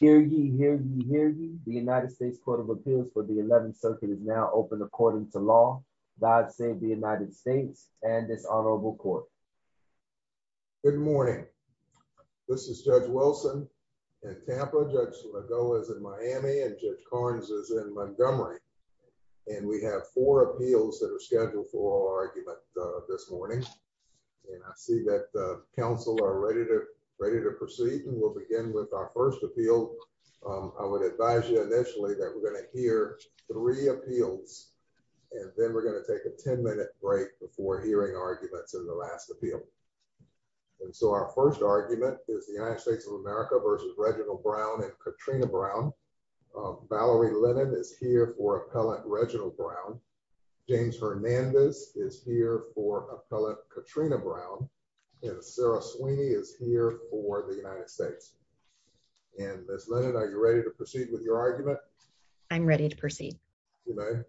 Hear ye, hear ye, hear ye. The United States Court of Appeals for the 11th Circuit is now open according to law. God save the United States and this honorable court. Good morning. This is Judge Wilson in Tampa, Judge Lagoa is in Miami, and Judge Carnes is in Montgomery. And we have four appeals that are scheduled for argument this morning. And I see that the council are ready to proceed and we'll begin with our first appeal. I would advise you initially that we're going to hear three appeals. And then we're going to take a 10 minute break before hearing arguments in the last appeal. And so our first argument is the United States of America versus Reginald Brown and Katrina Brown. Valerie Lennon is here for appellant Katrina Brown, and Sarah Sweeney is here for the United States. And Miss Lennon, are you ready to proceed with your argument? I'm ready to proceed. You may.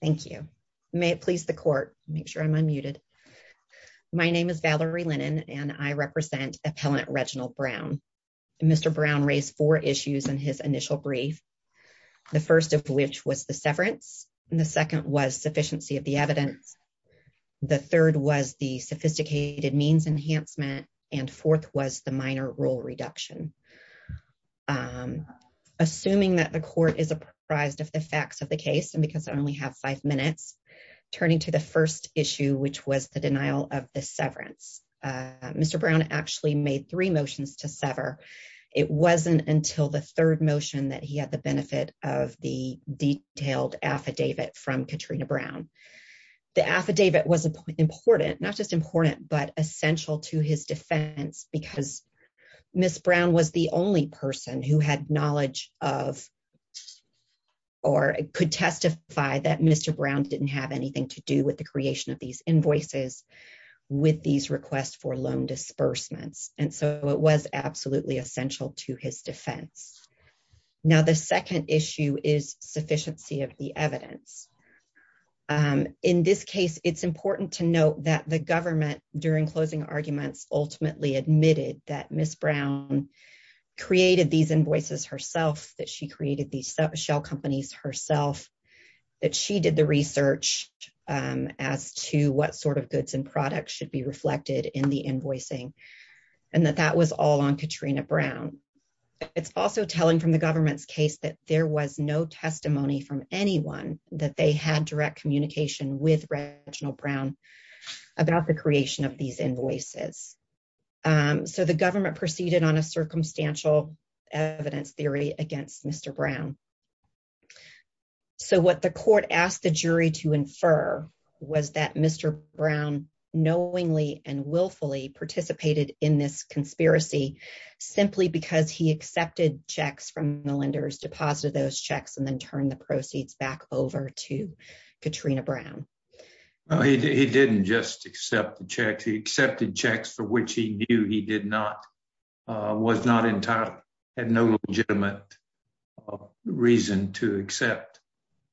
Thank you. May it please the court make sure I'm unmuted. My name is Valerie Lennon and I represent appellant Reginald Brown. Mr. Brown raised four issues in his initial brief. The first of which was the severance and the second was sophisticated means enhancement and fourth was the minor rule reduction. Assuming that the court is apprised of the facts of the case and because I only have five minutes, turning to the first issue, which was the denial of the severance. Mr. Brown actually made three motions to sever. It wasn't until the third motion that he had the benefit of the detailed affidavit from Katrina Brown. The affidavit was important, not just important, but essential to his defense because Miss Brown was the only person who had knowledge of or could testify that Mr. Brown didn't have anything to do with the creation of these invoices with these requests for loan disbursements. And so it was absolutely essential to his defense. Now the second issue is sufficiency of the evidence. In this case, it's important to note that the government, during closing arguments, ultimately admitted that Miss Brown created these invoices herself, that she created these shell companies herself, that she did the research as to what sort of goods and products should be reflected in the invoicing, and that that was all on Katrina Brown. It's also telling from the government's case that there was no testimony from anyone that they had direct communication with Reginald Brown about the creation of these invoices. So the government proceeded on a circumstantial evidence theory against Mr. Brown. So what the court asked the jury to infer was that Mr. Brown knowingly and willfully participated in this conspiracy simply because he accepted checks from the lenders, deposited those checks, and then turned the proceeds back over to Katrina Brown. He didn't just accept the checks. He accepted checks for which he knew he did not, was not entitled, had no legitimate reason to accept,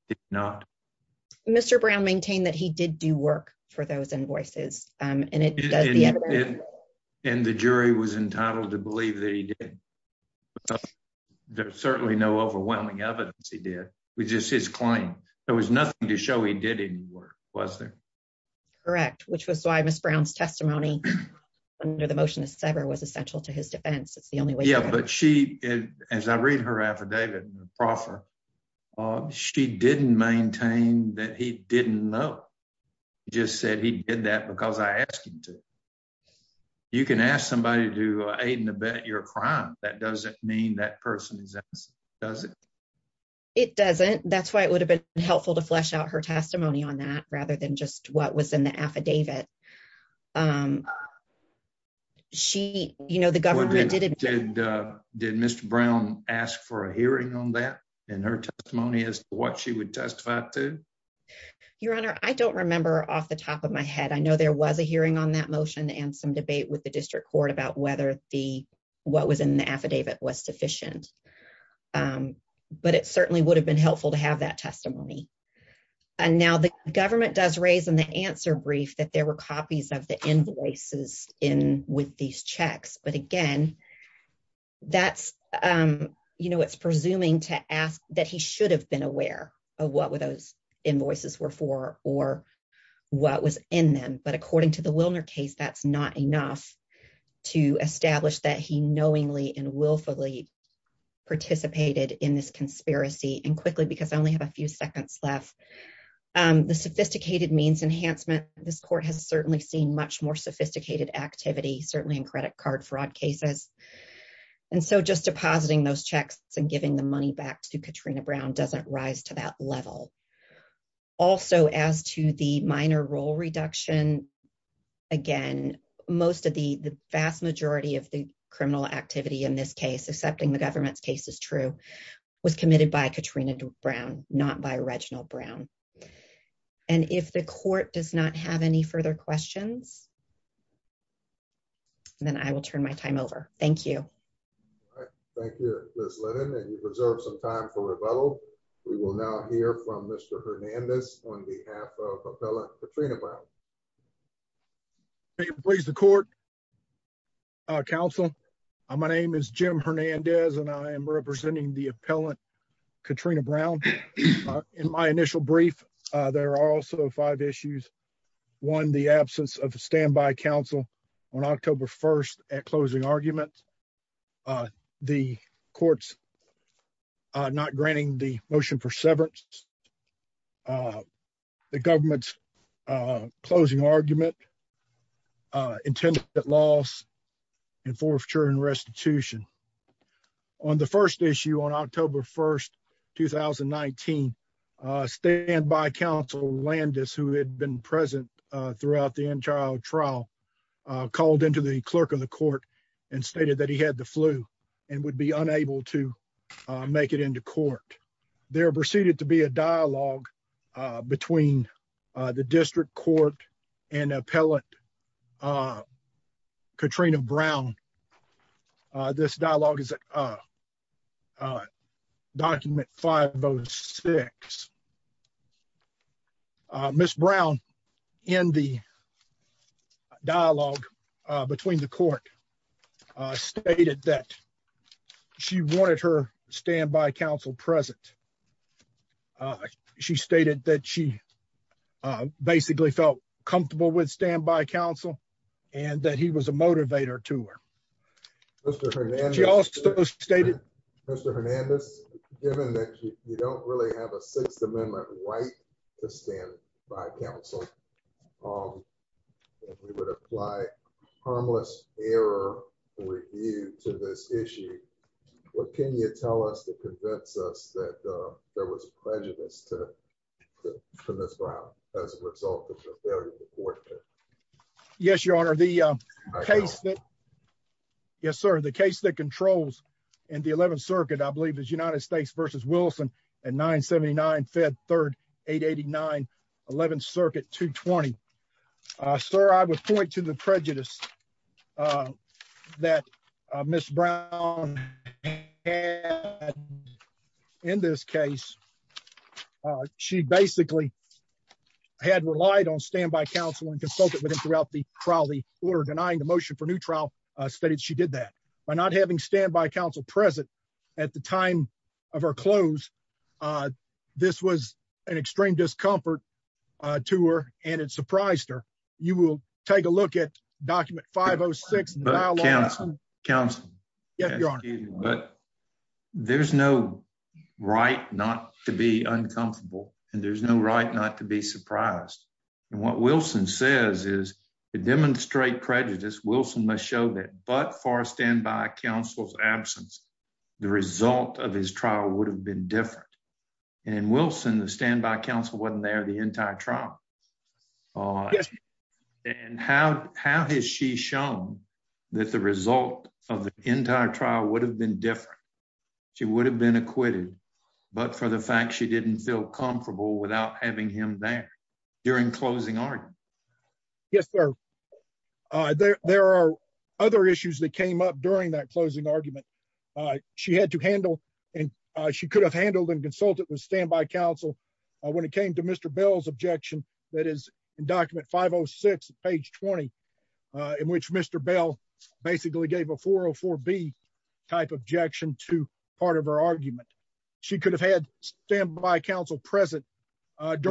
did not. Mr. Brown maintained that he did do work for those invoices. And the jury was entitled to believe that he did. There's certainly no overwhelming evidence he did. It was just his claim. There was nothing to show he did any work, was there? Correct, which was why Miss Brown's testimony under the motion to sever was essential to his defense. It's the only way. Yeah, but she, as I read her affidavit in the proffer, she didn't maintain that he didn't know. He just said he did that because I asked him to. You can ask somebody to aid and abet your crime. That doesn't mean that person is innocent, does it? It doesn't. That's why it would have been helpful to flesh out her testimony on that rather than just what was in the affidavit. She, you know, the government... Did Mr. Brown ask for a hearing on that in her testimony as to what she would testify to? Your Honor, I don't remember off the top of my head. I know there was a hearing on that motion and some debate with the district court about what was in the affidavit was sufficient. But it certainly would have been helpful to have that testimony. And now the government does raise in the answer brief that there were copies of the invoices in with these checks. But again, that's, you know, it's presuming to ask that he should have been aware of what were those invoices were for or what was in them. But according to the Wilner case, that's not enough to establish that he knowingly and willfully participated in this conspiracy. And quickly, because I only have a few seconds left, the sophisticated means enhancement, this court has certainly seen much more sophisticated activity, certainly in credit card fraud cases. And so just depositing those checks and giving the money back to Katrina Brown doesn't rise to that level. Also, as to the minor role reduction, again, most of the vast majority of the criminal activity in this case, accepting the government's case is true, was committed by Katrina Brown, not by Reginald Brown. And if the court does not have any further questions, then I will turn my time over. Thank you. Thank you, Liz Lennon, and you've reserved some time for rebuttal. We will now hear from Mr. Hernandez on behalf of appellate Katrina Brown. Please the court. Council. My name is Jim Hernandez, and I am representing the appellate Katrina Brown. In my initial brief, there are also five issues. One, the absence of a standby council on October 1 at closing argument. The courts not granting the motion for severance. The government's closing argument intended at loss and forfeiture and restitution. On the first issue on October 1, 2019, standby counsel Landis, who had been present throughout the entire trial, called into the clerk of the court and stated that he had the flu and would be dialogue between the district court and appellate Katrina Brown. This dialogue is a document 506. Miss Brown in the dialogue between the court stated that she wanted her present. She stated that she basically felt comfortable with standby counsel and that he was a motivator to her. Mr. Hernandez, given that you don't really have a sixth amendment right to stand by counsel, we would apply harmless error review to this issue. What can you tell us to convince us that there was prejudice to Miss Brown as a result of her failure to court? Yes, your honor. The case that controls in the 11th circuit, I believe, is United States versus Wilson at 979 Fed 3889, 11th circuit 220. Sir, I would point to the prejudice that Miss Brown had in this case. She basically had relied on standby counsel and consulted with him throughout the trial. The order denying the motion for new trial stated she did that. By not having standby counsel present at the time of her close, this was an extreme discomfort to her and it surprised her. You will take a look at document 506. There's no right not to be uncomfortable and there's no right not to be surprised. And what Wilson says is to demonstrate prejudice, Wilson must show that but for standby counsel's absence, the result of his trial would have been different. And Wilson, the standby counsel wasn't there the entire trial. And how has she shown that the result of the entire trial would have been different? She would have been acquitted, but for the fact she didn't feel comfortable without having him there during closing argument. Yes, sir. There are other issues that came up during that closing argument. She had to handle and she could have handled and consulted with Mr. Bell's objection that is in document 506, page 20, in which Mr. Bell basically gave a 404B type objection to part of her argument. She could have had standby counsel present. Of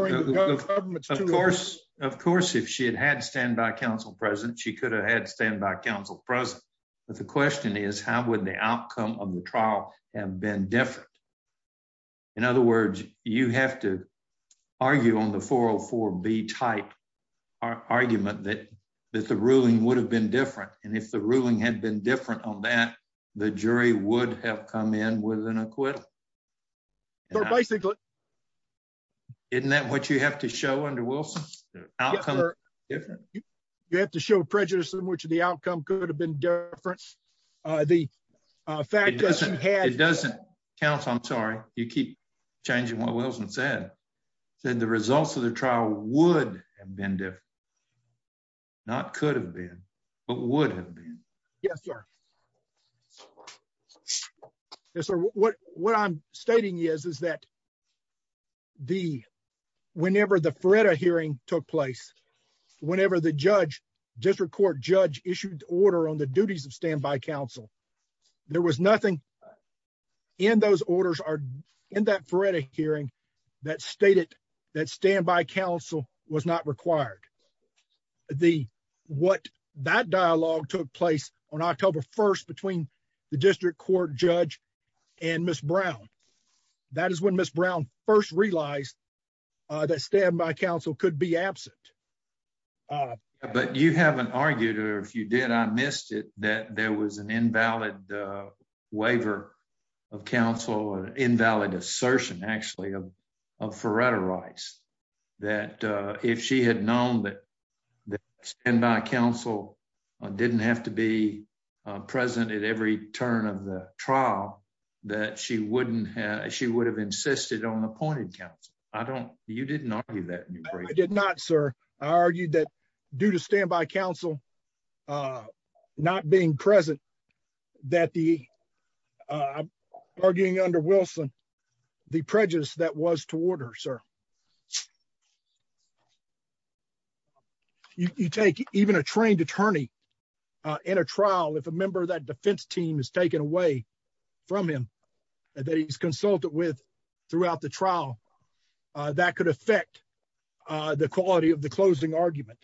course, if she had had standby counsel present, she could have had standby counsel present. But the question is, how would the outcome of the trial have been different? In other words, you have to argue on the 404B type argument that the ruling would have been different. And if the ruling had been different on that, the jury would have come in with an acquittal. Isn't that what you have to show under Wilson? You have to show prejudice in which the outcome could have been different. The fact that she had- It doesn't count, I'm sorry. You keep changing what Wilson said. He said the results of the trial would have been different. Not could have been, but would have been. Yes, sir. Yes, sir. What I'm stating is, is that whenever the Feretta hearing took place, whenever the district court judge issued order on the duties of standby counsel, there was nothing in those orders or in that Feretta hearing that stated that standby counsel was not required. What that dialogue took place on October 1st between the district court judge and Ms. Brown, that is when Ms. Brown first realized that standby counsel could be absent. All right. But you haven't argued, or if you did, I missed it, that there was an invalid waiver of counsel or invalid assertion, actually, of Feretta rights. That if she had known that standby counsel didn't have to be present at every turn of the trial, that she wouldn't have- she would have insisted on appointed counsel. I don't- You didn't argue that in your brief. I did not, sir. I argued that due to standby counsel not being present, that the- I'm arguing under Wilson, the prejudice that was toward her, sir. You take even a trained attorney in a trial, if a member of that defense team is taken away from him that he's consulted with throughout the trial, that could affect the quality of the closing argument.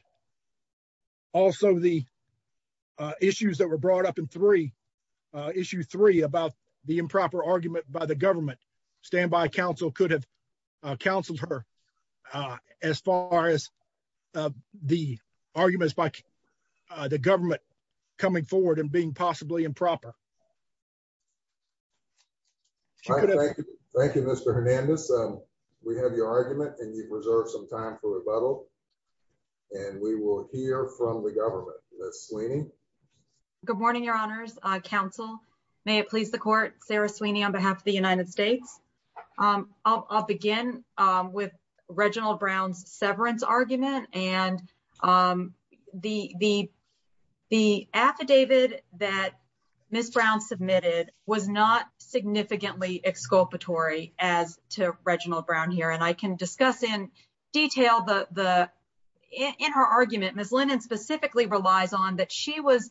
Also, the issues that were brought up in three- issue three about the improper argument by the government, standby counsel could have counseled her as far as the arguments by the government coming forward and being possibly improper. Thank you, Mr. Hernandez. We have your argument, and you've reserved some time for rebuttal, and we will hear from the government. Ms. Sweeney? Good morning, Your Honors. Counsel, may it please the court, Sarah Sweeney on behalf of the United States. I'll begin with Reginald Brown's severance argument, and the affidavit that Ms. Brown submitted was not significantly exculpatory as to Reginald Brown here, and I can discuss in detail the- in her argument, Ms. Lennon specifically relies on that she was-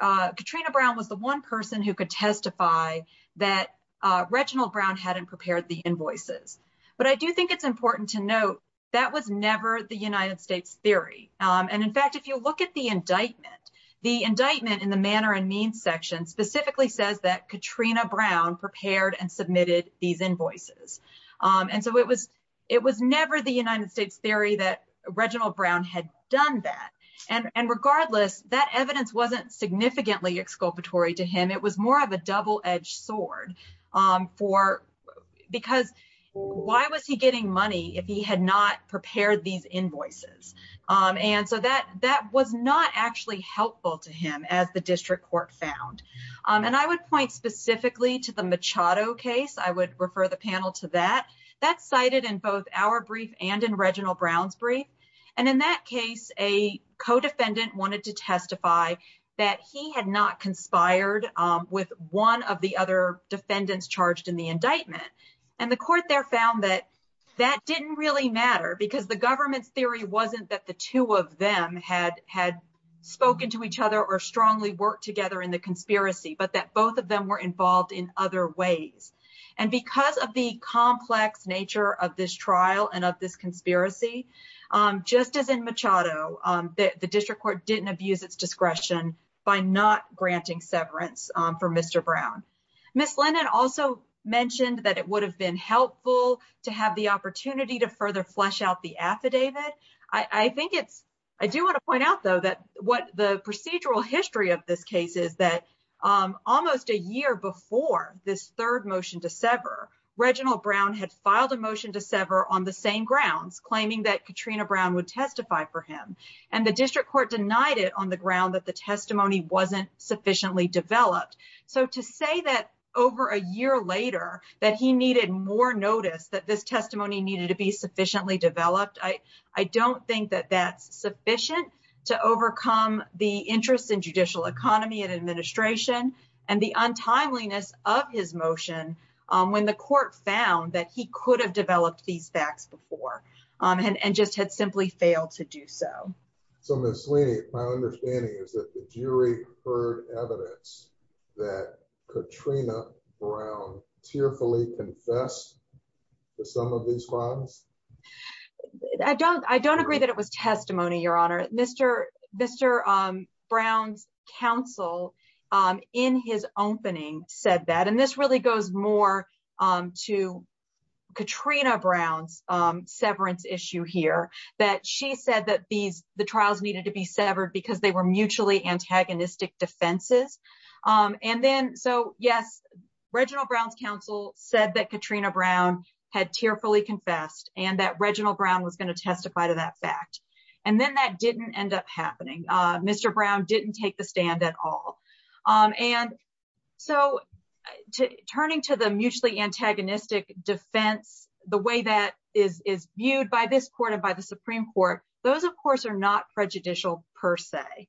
Katrina Brown was the one person who could testify that Reginald Brown hadn't prepared the invoices, but I do think it's important to note that was never the United States theory, and in fact, if you look at the indictment, the indictment in the manner and means section specifically says that Katrina Brown prepared and submitted these invoices, and so it was never the United States theory that Reginald Brown had done that, and regardless, that evidence wasn't significantly exculpatory to him. It was more of a double-edged sword for- because why was he getting money if he had not prepared these invoices, and so that was not actually helpful to him as the district court found, and I would point specifically to the Machado case. I would refer the panel to that. That's cited in both our brief and in Reginald Brown's brief, and in that case, a co-defendant wanted to testify that he had not conspired with one of the other defendants charged in the case, and that didn't really matter because the government's theory wasn't that the two of them had had spoken to each other or strongly worked together in the conspiracy, but that both of them were involved in other ways, and because of the complex nature of this trial and of this conspiracy, just as in Machado, the district court didn't abuse its discretion by not granting severance for Mr. Brown. Ms. Lennon also mentioned that it would have been helpful to have the flesh out the affidavit. I think it's- I do want to point out, though, that what the procedural history of this case is that almost a year before this third motion to sever, Reginald Brown had filed a motion to sever on the same grounds, claiming that Katrina Brown would testify for him, and the district court denied it on the ground that the testimony wasn't sufficiently developed, so to say that over a year later that he needed more notice, that this testimony needed to be sufficiently developed, I don't think that that's sufficient to overcome the interest in judicial economy and administration and the untimeliness of his motion when the court found that he could have developed these facts before and just had simply failed to do so. So, Ms. Sweeney, my understanding is that the jury heard evidence that Katrina Brown tearfully confessed to some of these crimes? I don't- I don't agree that it was testimony, Your Honor. Mr. Brown's counsel in his opening said that, and this really goes more to Katrina Brown's severance issue here, that she said that these- the trials needed to be severed because they were mutually antagonistic defenses, and then- yes, Reginald Brown's counsel said that Katrina Brown had tearfully confessed and that Reginald Brown was going to testify to that fact, and then that didn't end up happening. Mr. Brown didn't take the stand at all, and so turning to the mutually antagonistic defense, the way that is- is viewed by this court and by the Supreme Court, those of course are not prejudicial per se,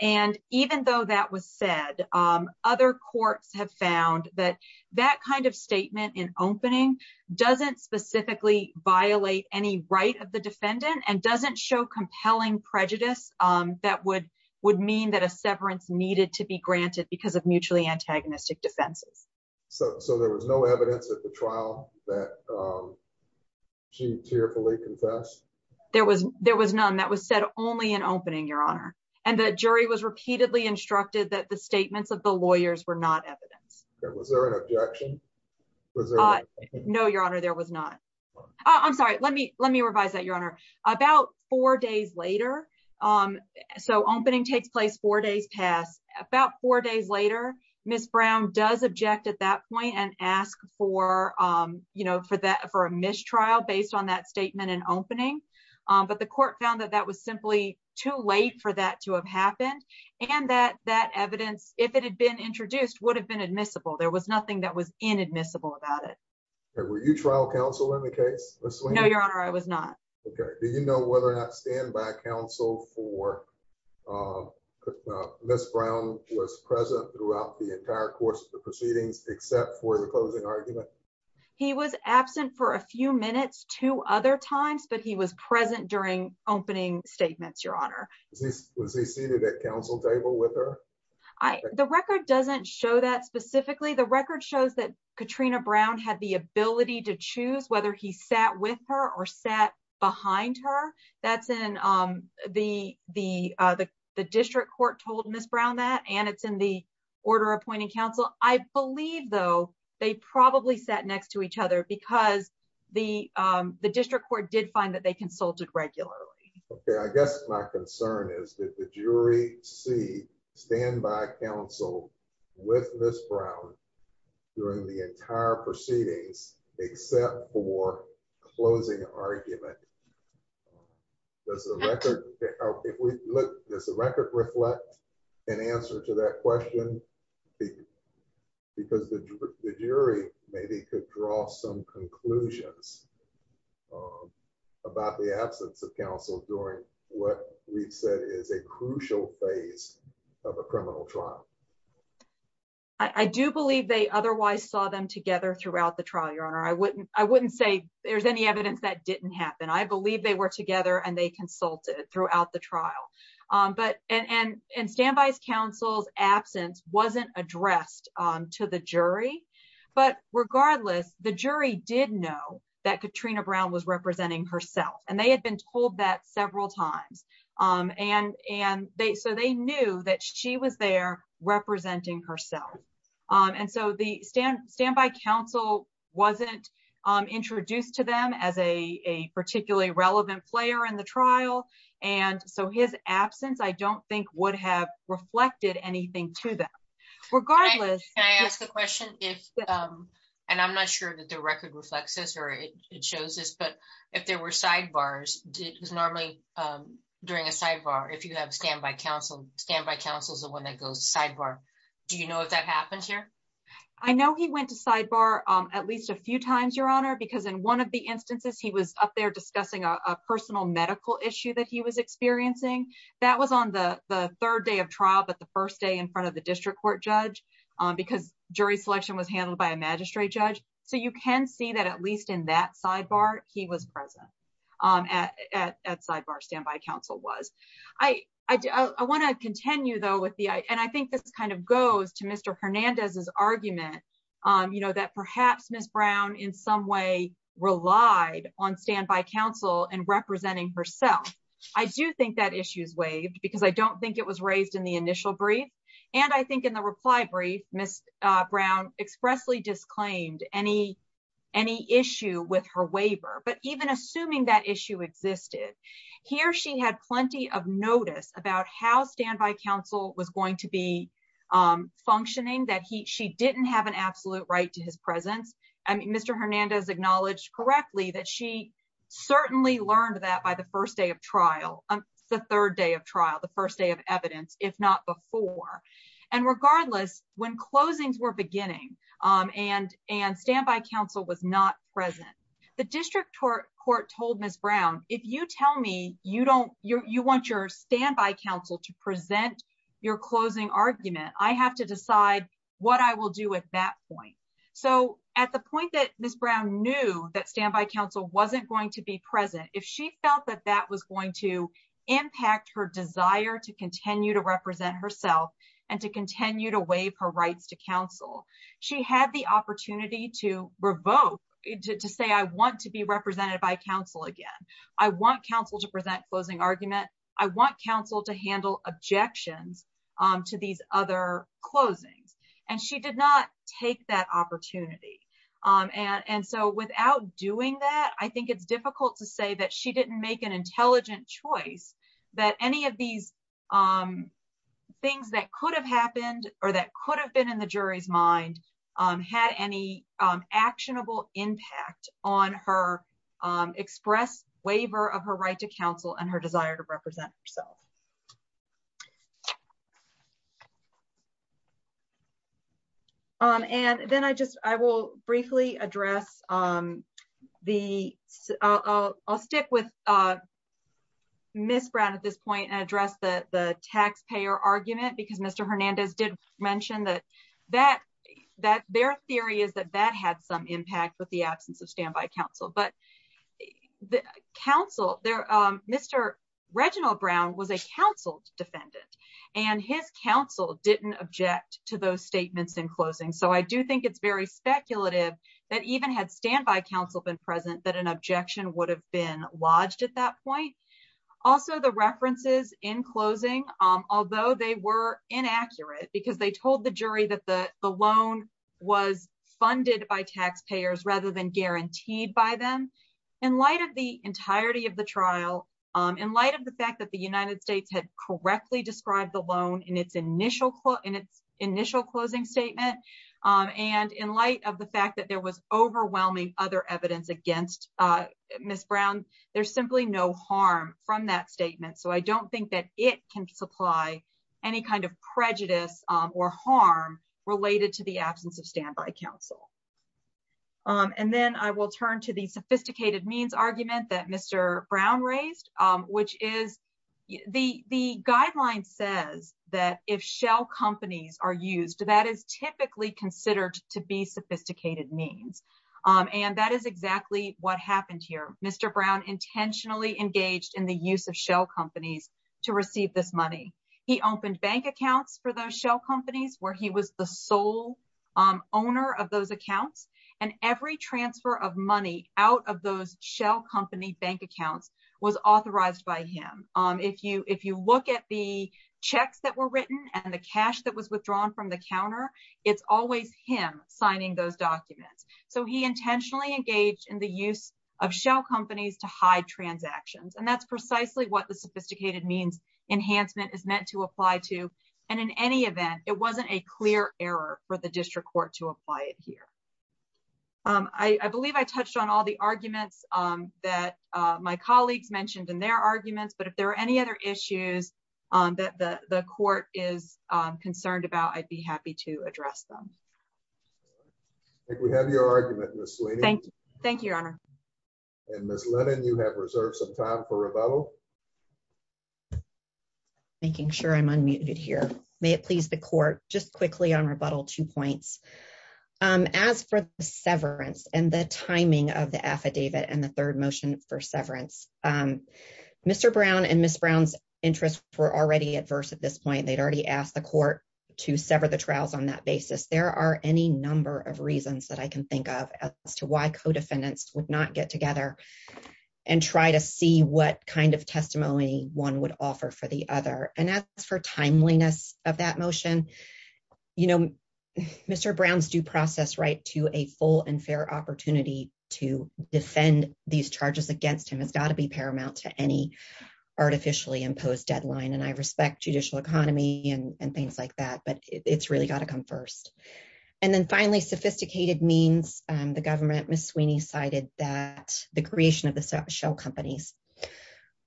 and even though that was said, other courts have found that that kind of statement in opening doesn't specifically violate any right of the defendant and doesn't show compelling prejudice that would- would mean that a severance needed to be granted because of mutually antagonistic defenses. So- so there was no evidence at the trial that she tearfully confessed? There was- was said only in opening, your honor, and the jury was repeatedly instructed that the statements of the lawyers were not evidence. Was there an objection? No, your honor, there was not. Oh, I'm sorry, let me- let me revise that, your honor. About four days later- so opening takes place four days past- about four days later, Ms. Brown does object at that point and ask for- you know, for that- for a mistrial based on that statement in opening, but the court found that that was simply too late for that to have happened and that- that evidence, if it had been introduced, would have been admissible. There was nothing that was inadmissible about it. Were you trial counsel in the case? No, your honor, I was not. Okay, do you know whether or not stand-by counsel for Ms. Brown was present throughout the entire course of the proceedings except for the closing argument? He was absent for a few minutes two other times, but he was present during opening statements, your honor. Was he seated at counsel table with her? I- the record doesn't show that specifically. The record shows that Katrina Brown had the ability to choose whether he sat with her or sat behind her. That's in the- the- the district court told Ms. Brown that, and it's in the order appointing counsel. I believe, though, they probably sat next to each other because the- the district court did find that they consulted regularly. Okay, I guess my concern is that the jury see stand-by counsel with Ms. Brown during the entire proceedings except for closing argument. Does the record- because the jury maybe could draw some conclusions about the absence of counsel during what we've said is a crucial phase of a criminal trial. I do believe they otherwise saw them together throughout the trial, your honor. I wouldn't- I wouldn't say there's any evidence that didn't happen. I believe they were together and they to the jury, but regardless, the jury did know that Katrina Brown was representing herself, and they had been told that several times, and- and they- so they knew that she was there representing herself, and so the stand- stand-by counsel wasn't introduced to them as a- a particularly relevant player in the trial, and so his absence I don't think would have reflected anything to them. Regardless- Can I ask a question? If- and I'm not sure that the record reflects this or it shows this, but if there were sidebars, did- normally during a sidebar, if you have stand-by counsel, stand-by counsel is the one that goes sidebar. Do you know if that happens here? I know he went to sidebar at least a few times, your honor, because in one of the instances he was up there discussing a personal medical issue that he was experiencing, that was on the- the third day of trial, but the first day in front of the district court judge, because jury selection was handled by a magistrate judge, so you can see that at least in that sidebar, he was present at- at- at sidebar stand-by counsel was. I- I- I want to continue though with the- and I think this kind of goes to Mr. Hernandez's argument, you know, that perhaps Ms. Brown in some way relied on stand-by counsel and I do think that issue is waived because I don't think it was raised in the initial brief, and I think in the reply brief, Ms. Brown expressly disclaimed any- any issue with her waiver, but even assuming that issue existed, here she had plenty of notice about how stand-by counsel was going to be functioning, that he- she didn't have an absolute right to his presence, and Mr. Hernandez acknowledged correctly that she certainly learned that by the first day of trial- the third day of trial, the first day of evidence, if not before, and regardless, when closings were beginning and- and stand-by counsel was not present, the district court- court told Ms. Brown, if you tell me you don't- you- you want your stand-by counsel to present your closing argument, I have to decide what I will do at that point, so at the point that Ms. Brown knew that stand-by counsel wasn't going to be present, if she felt that that was going to impact her desire to continue to represent herself and to continue to waive her rights to counsel, she had the opportunity to revoke- to say, I want to be represented by counsel again, I want counsel to present closing argument, I want counsel to handle objections to these other closings, and she did not take that opportunity, and- and so without doing that, I think it's an intelligent choice that any of these things that could have happened or that could have been in the jury's mind had any actionable impact on her express waiver of her right to counsel and her desire to represent herself. And then I just- I will briefly address the- I'll- I'll stick with Ms. Brown at this point and address the- the taxpayer argument, because Mr. Hernandez did mention that- that- that their theory is that that had some impact with the absence of stand-by counsel, but the counsel- there- Mr. Reginald Brown was a counsel defendant, and his counsel didn't object to those statements in closing, so I do think it's very speculative that even had stand-by counsel been present, that an objection would have been lodged at that point. Also, the references in closing, although they were inaccurate because they told the jury that the- the loan was funded by taxpayers rather than guaranteed by them, in light of the entirety of the trial, in light of the fact that the United States had correctly described the loan in its initial- in its evidence against Ms. Brown, there's simply no harm from that statement, so I don't think that it can supply any kind of prejudice or harm related to the absence of stand-by counsel. And then I will turn to the sophisticated means argument that Mr. Brown raised, which is the- the guideline says that if shell companies are used, that is typically considered to be what happened here. Mr. Brown intentionally engaged in the use of shell companies to receive this money. He opened bank accounts for those shell companies where he was the sole owner of those accounts, and every transfer of money out of those shell company bank accounts was authorized by him. If you- if you look at the checks that were written and the cash that was withdrawn from the counter, it's always him signing those documents, so he intentionally engaged in the use of shell companies to hide transactions, and that's precisely what the sophisticated means enhancement is meant to apply to, and in any event, it wasn't a clear error for the district court to apply it here. I- I believe I touched on all the arguments that my colleagues mentioned in their arguments, but if there are any other issues that the- the court is concerned about, I'd be happy to address them. I think we have your argument, Ms. Sweeney. Thank you. Thank you, Your Honor. And Ms. Lennon, you have reserved some time for rebuttal. Making sure I'm unmuted here. May it please the court, just quickly on rebuttal, two points. As for the severance and the timing of the affidavit and the third motion for severance, Mr. Brown and Ms. Brown's interests were already adverse at this point. They'd already asked the court to sever the trials on that basis. There are any number of reasons that I can think of as to why co-defendants would not get together and try to see what kind of testimony one would offer for the other. And as for timeliness of that motion, you know, Mr. Brown's due process right to a full and fair opportunity to defend these charges against him has got to be paramount to any artificially imposed deadline, and I respect judicial economy and things like that, it's really got to come first. And then finally, sophisticated means, the government, Ms. Sweeney, cited that the creation of the shell companies.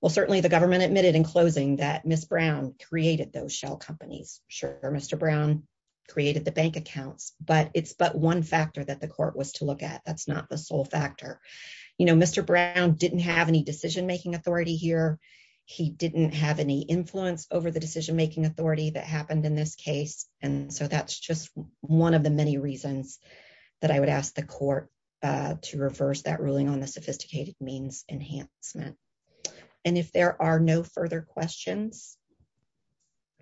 Well, certainly the government admitted in closing that Ms. Brown created those shell companies. Sure, Mr. Brown created the bank accounts, but it's but one factor that the court was to look at. That's not the sole factor. You know, Mr. Brown didn't have any decision-making authority here. He didn't have any influence over the decision-making authority that happened in this case. And so that's just one of the many reasons that I would ask the court to reverse that ruling on the sophisticated means enhancement. And if there are no further questions,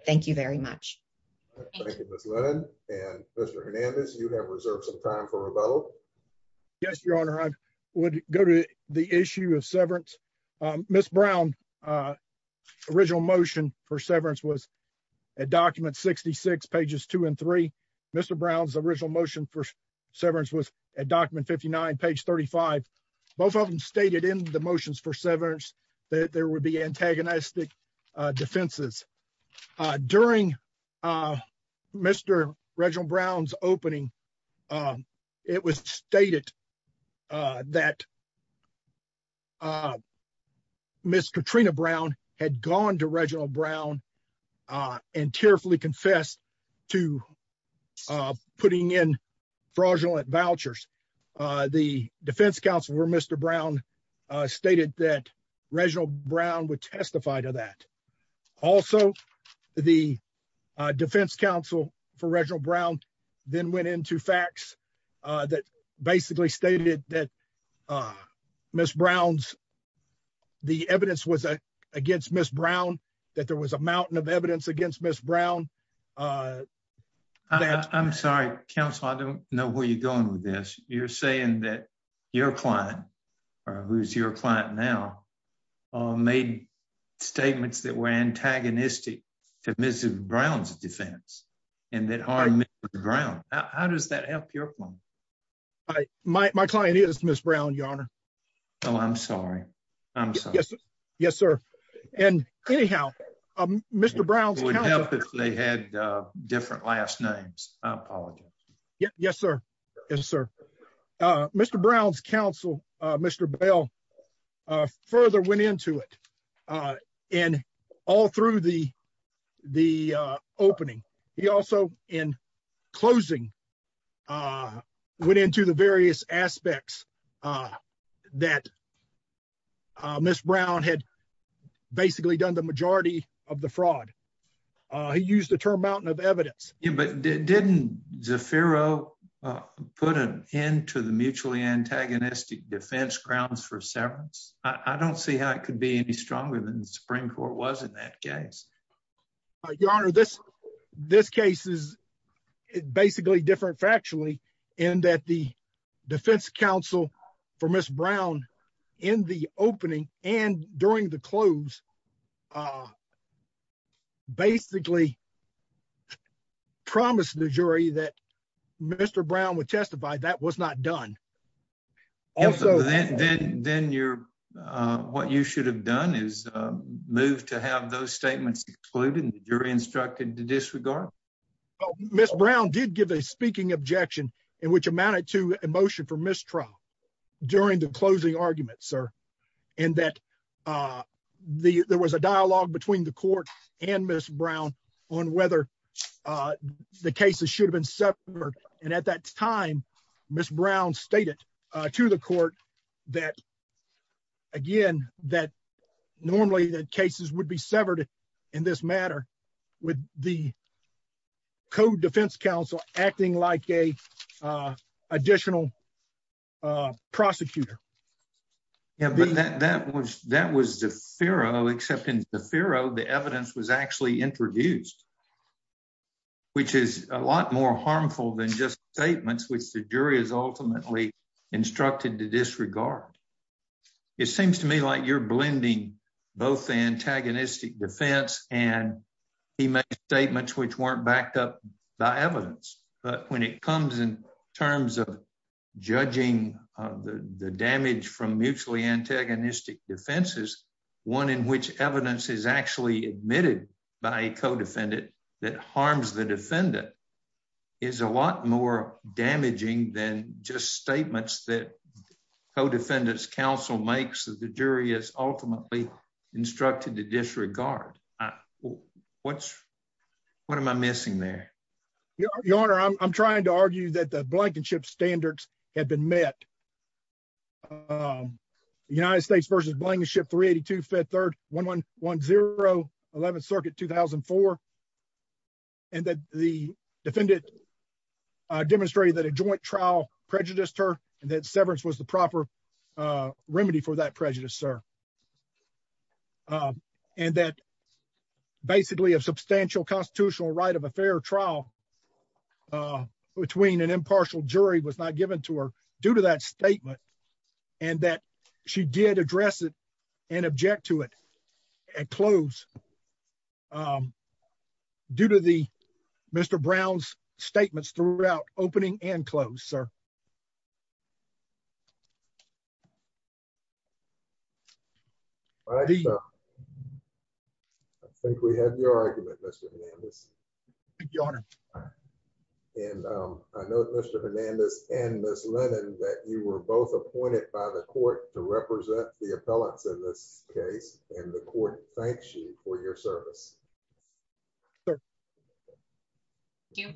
thank you very much. Thank you, Ms. Lennon. And Mr. Hernandez, you have reserved some time for rebuttal. Yes, Your Honor, I would go to the issue of severance. Ms. Brown's original motion for severance was at document 66, pages 2 and 3. Mr. Brown's original motion for severance was at document 59, page 35. Both of them stated in the motions for severance that there would be stated that Ms. Katrina Brown had gone to Reginald Brown and tearfully confessed to putting in fraudulent vouchers. The defense counsel for Mr. Brown stated that Reginald Brown would testify to that. Also, the defense counsel for Reginald Brown then went into facts that basically stated that Ms. Brown's, the evidence was against Ms. Brown, that there was a mountain of evidence against Ms. Brown. I'm sorry, counsel, I don't know where you're going with this. You're saying that your client, or who's your client now, made statements that were antagonistic to Ms. Brown's defense and that harmed Ms. Brown. How does that help your point? My client is Ms. Brown, Your Honor. Oh, I'm sorry. I'm sorry. Yes, sir. And anyhow, Mr. Brown's counsel... It would help if they had different last names. I apologize. Yes, sir. Yes, sir. Mr. Brown's counsel, Mr. Bell, further went into it. And all through the case, he also, in closing, went into the various aspects that Ms. Brown had basically done the majority of the fraud. He used the term mountain of evidence. Yeah, but didn't Zaffiro put an end to the mutually antagonistic defense grounds for severance? I don't see how it could be any stronger than the Supreme Court was in that case. Your Honor, this case is basically different factually in that the defense counsel for Ms. Brown in the opening and during the close basically promised the jury that Mr. Brown would testify that was not done. Also, then what you should have done is move to have those statements excluded and the jury instructed to disregard. Ms. Brown did give a speaking objection in which amounted to a motion for mistrial during the closing argument, sir, and that there was a dialogue between the court and Ms. Brown on whether the cases should have been severed. And at that time, Ms. Brown stated to the court that again, that normally the cases would be severed in this matter with the Code Defense Counsel acting like a additional prosecutor. Yeah, but that was Zaffiro, except in Zaffiro, the evidence was actually introduced, which is a lot more harmful than just statements, which the jury is ultimately instructed to disregard. It seems to me like you're blending both the antagonistic defense and he made statements which weren't backed up by evidence. But when it comes in terms of the damage from mutually antagonistic defenses, one in which evidence is actually admitted by a codefendant that harms the defendant is a lot more damaging than just statements that Code Defendant's Counsel makes the jury is ultimately instructed to disregard. What's what am I missing there? Your Honor, I'm trying to argue that the blankenship standards have been met. The United States v. Blankenship 382, Fed 3rd, 1110, 11th Circuit, 2004. And that the defendant demonstrated that a joint trial prejudiced her and that severance was the proper remedy for that prejudice, sir. And that basically a substantial constitutional right of fair trial between an impartial jury was not given to her due to that statement and that she did address it and object to it at close due to the Mr. Brown's statements throughout opening and close, sir. I think we have your argument, Mr. Hernandez. Your Honor. And I know Mr. Hernandez and Ms. Lennon that you were both appointed by the court to represent the appellants in this case and the court thanks you for your service. Thank you.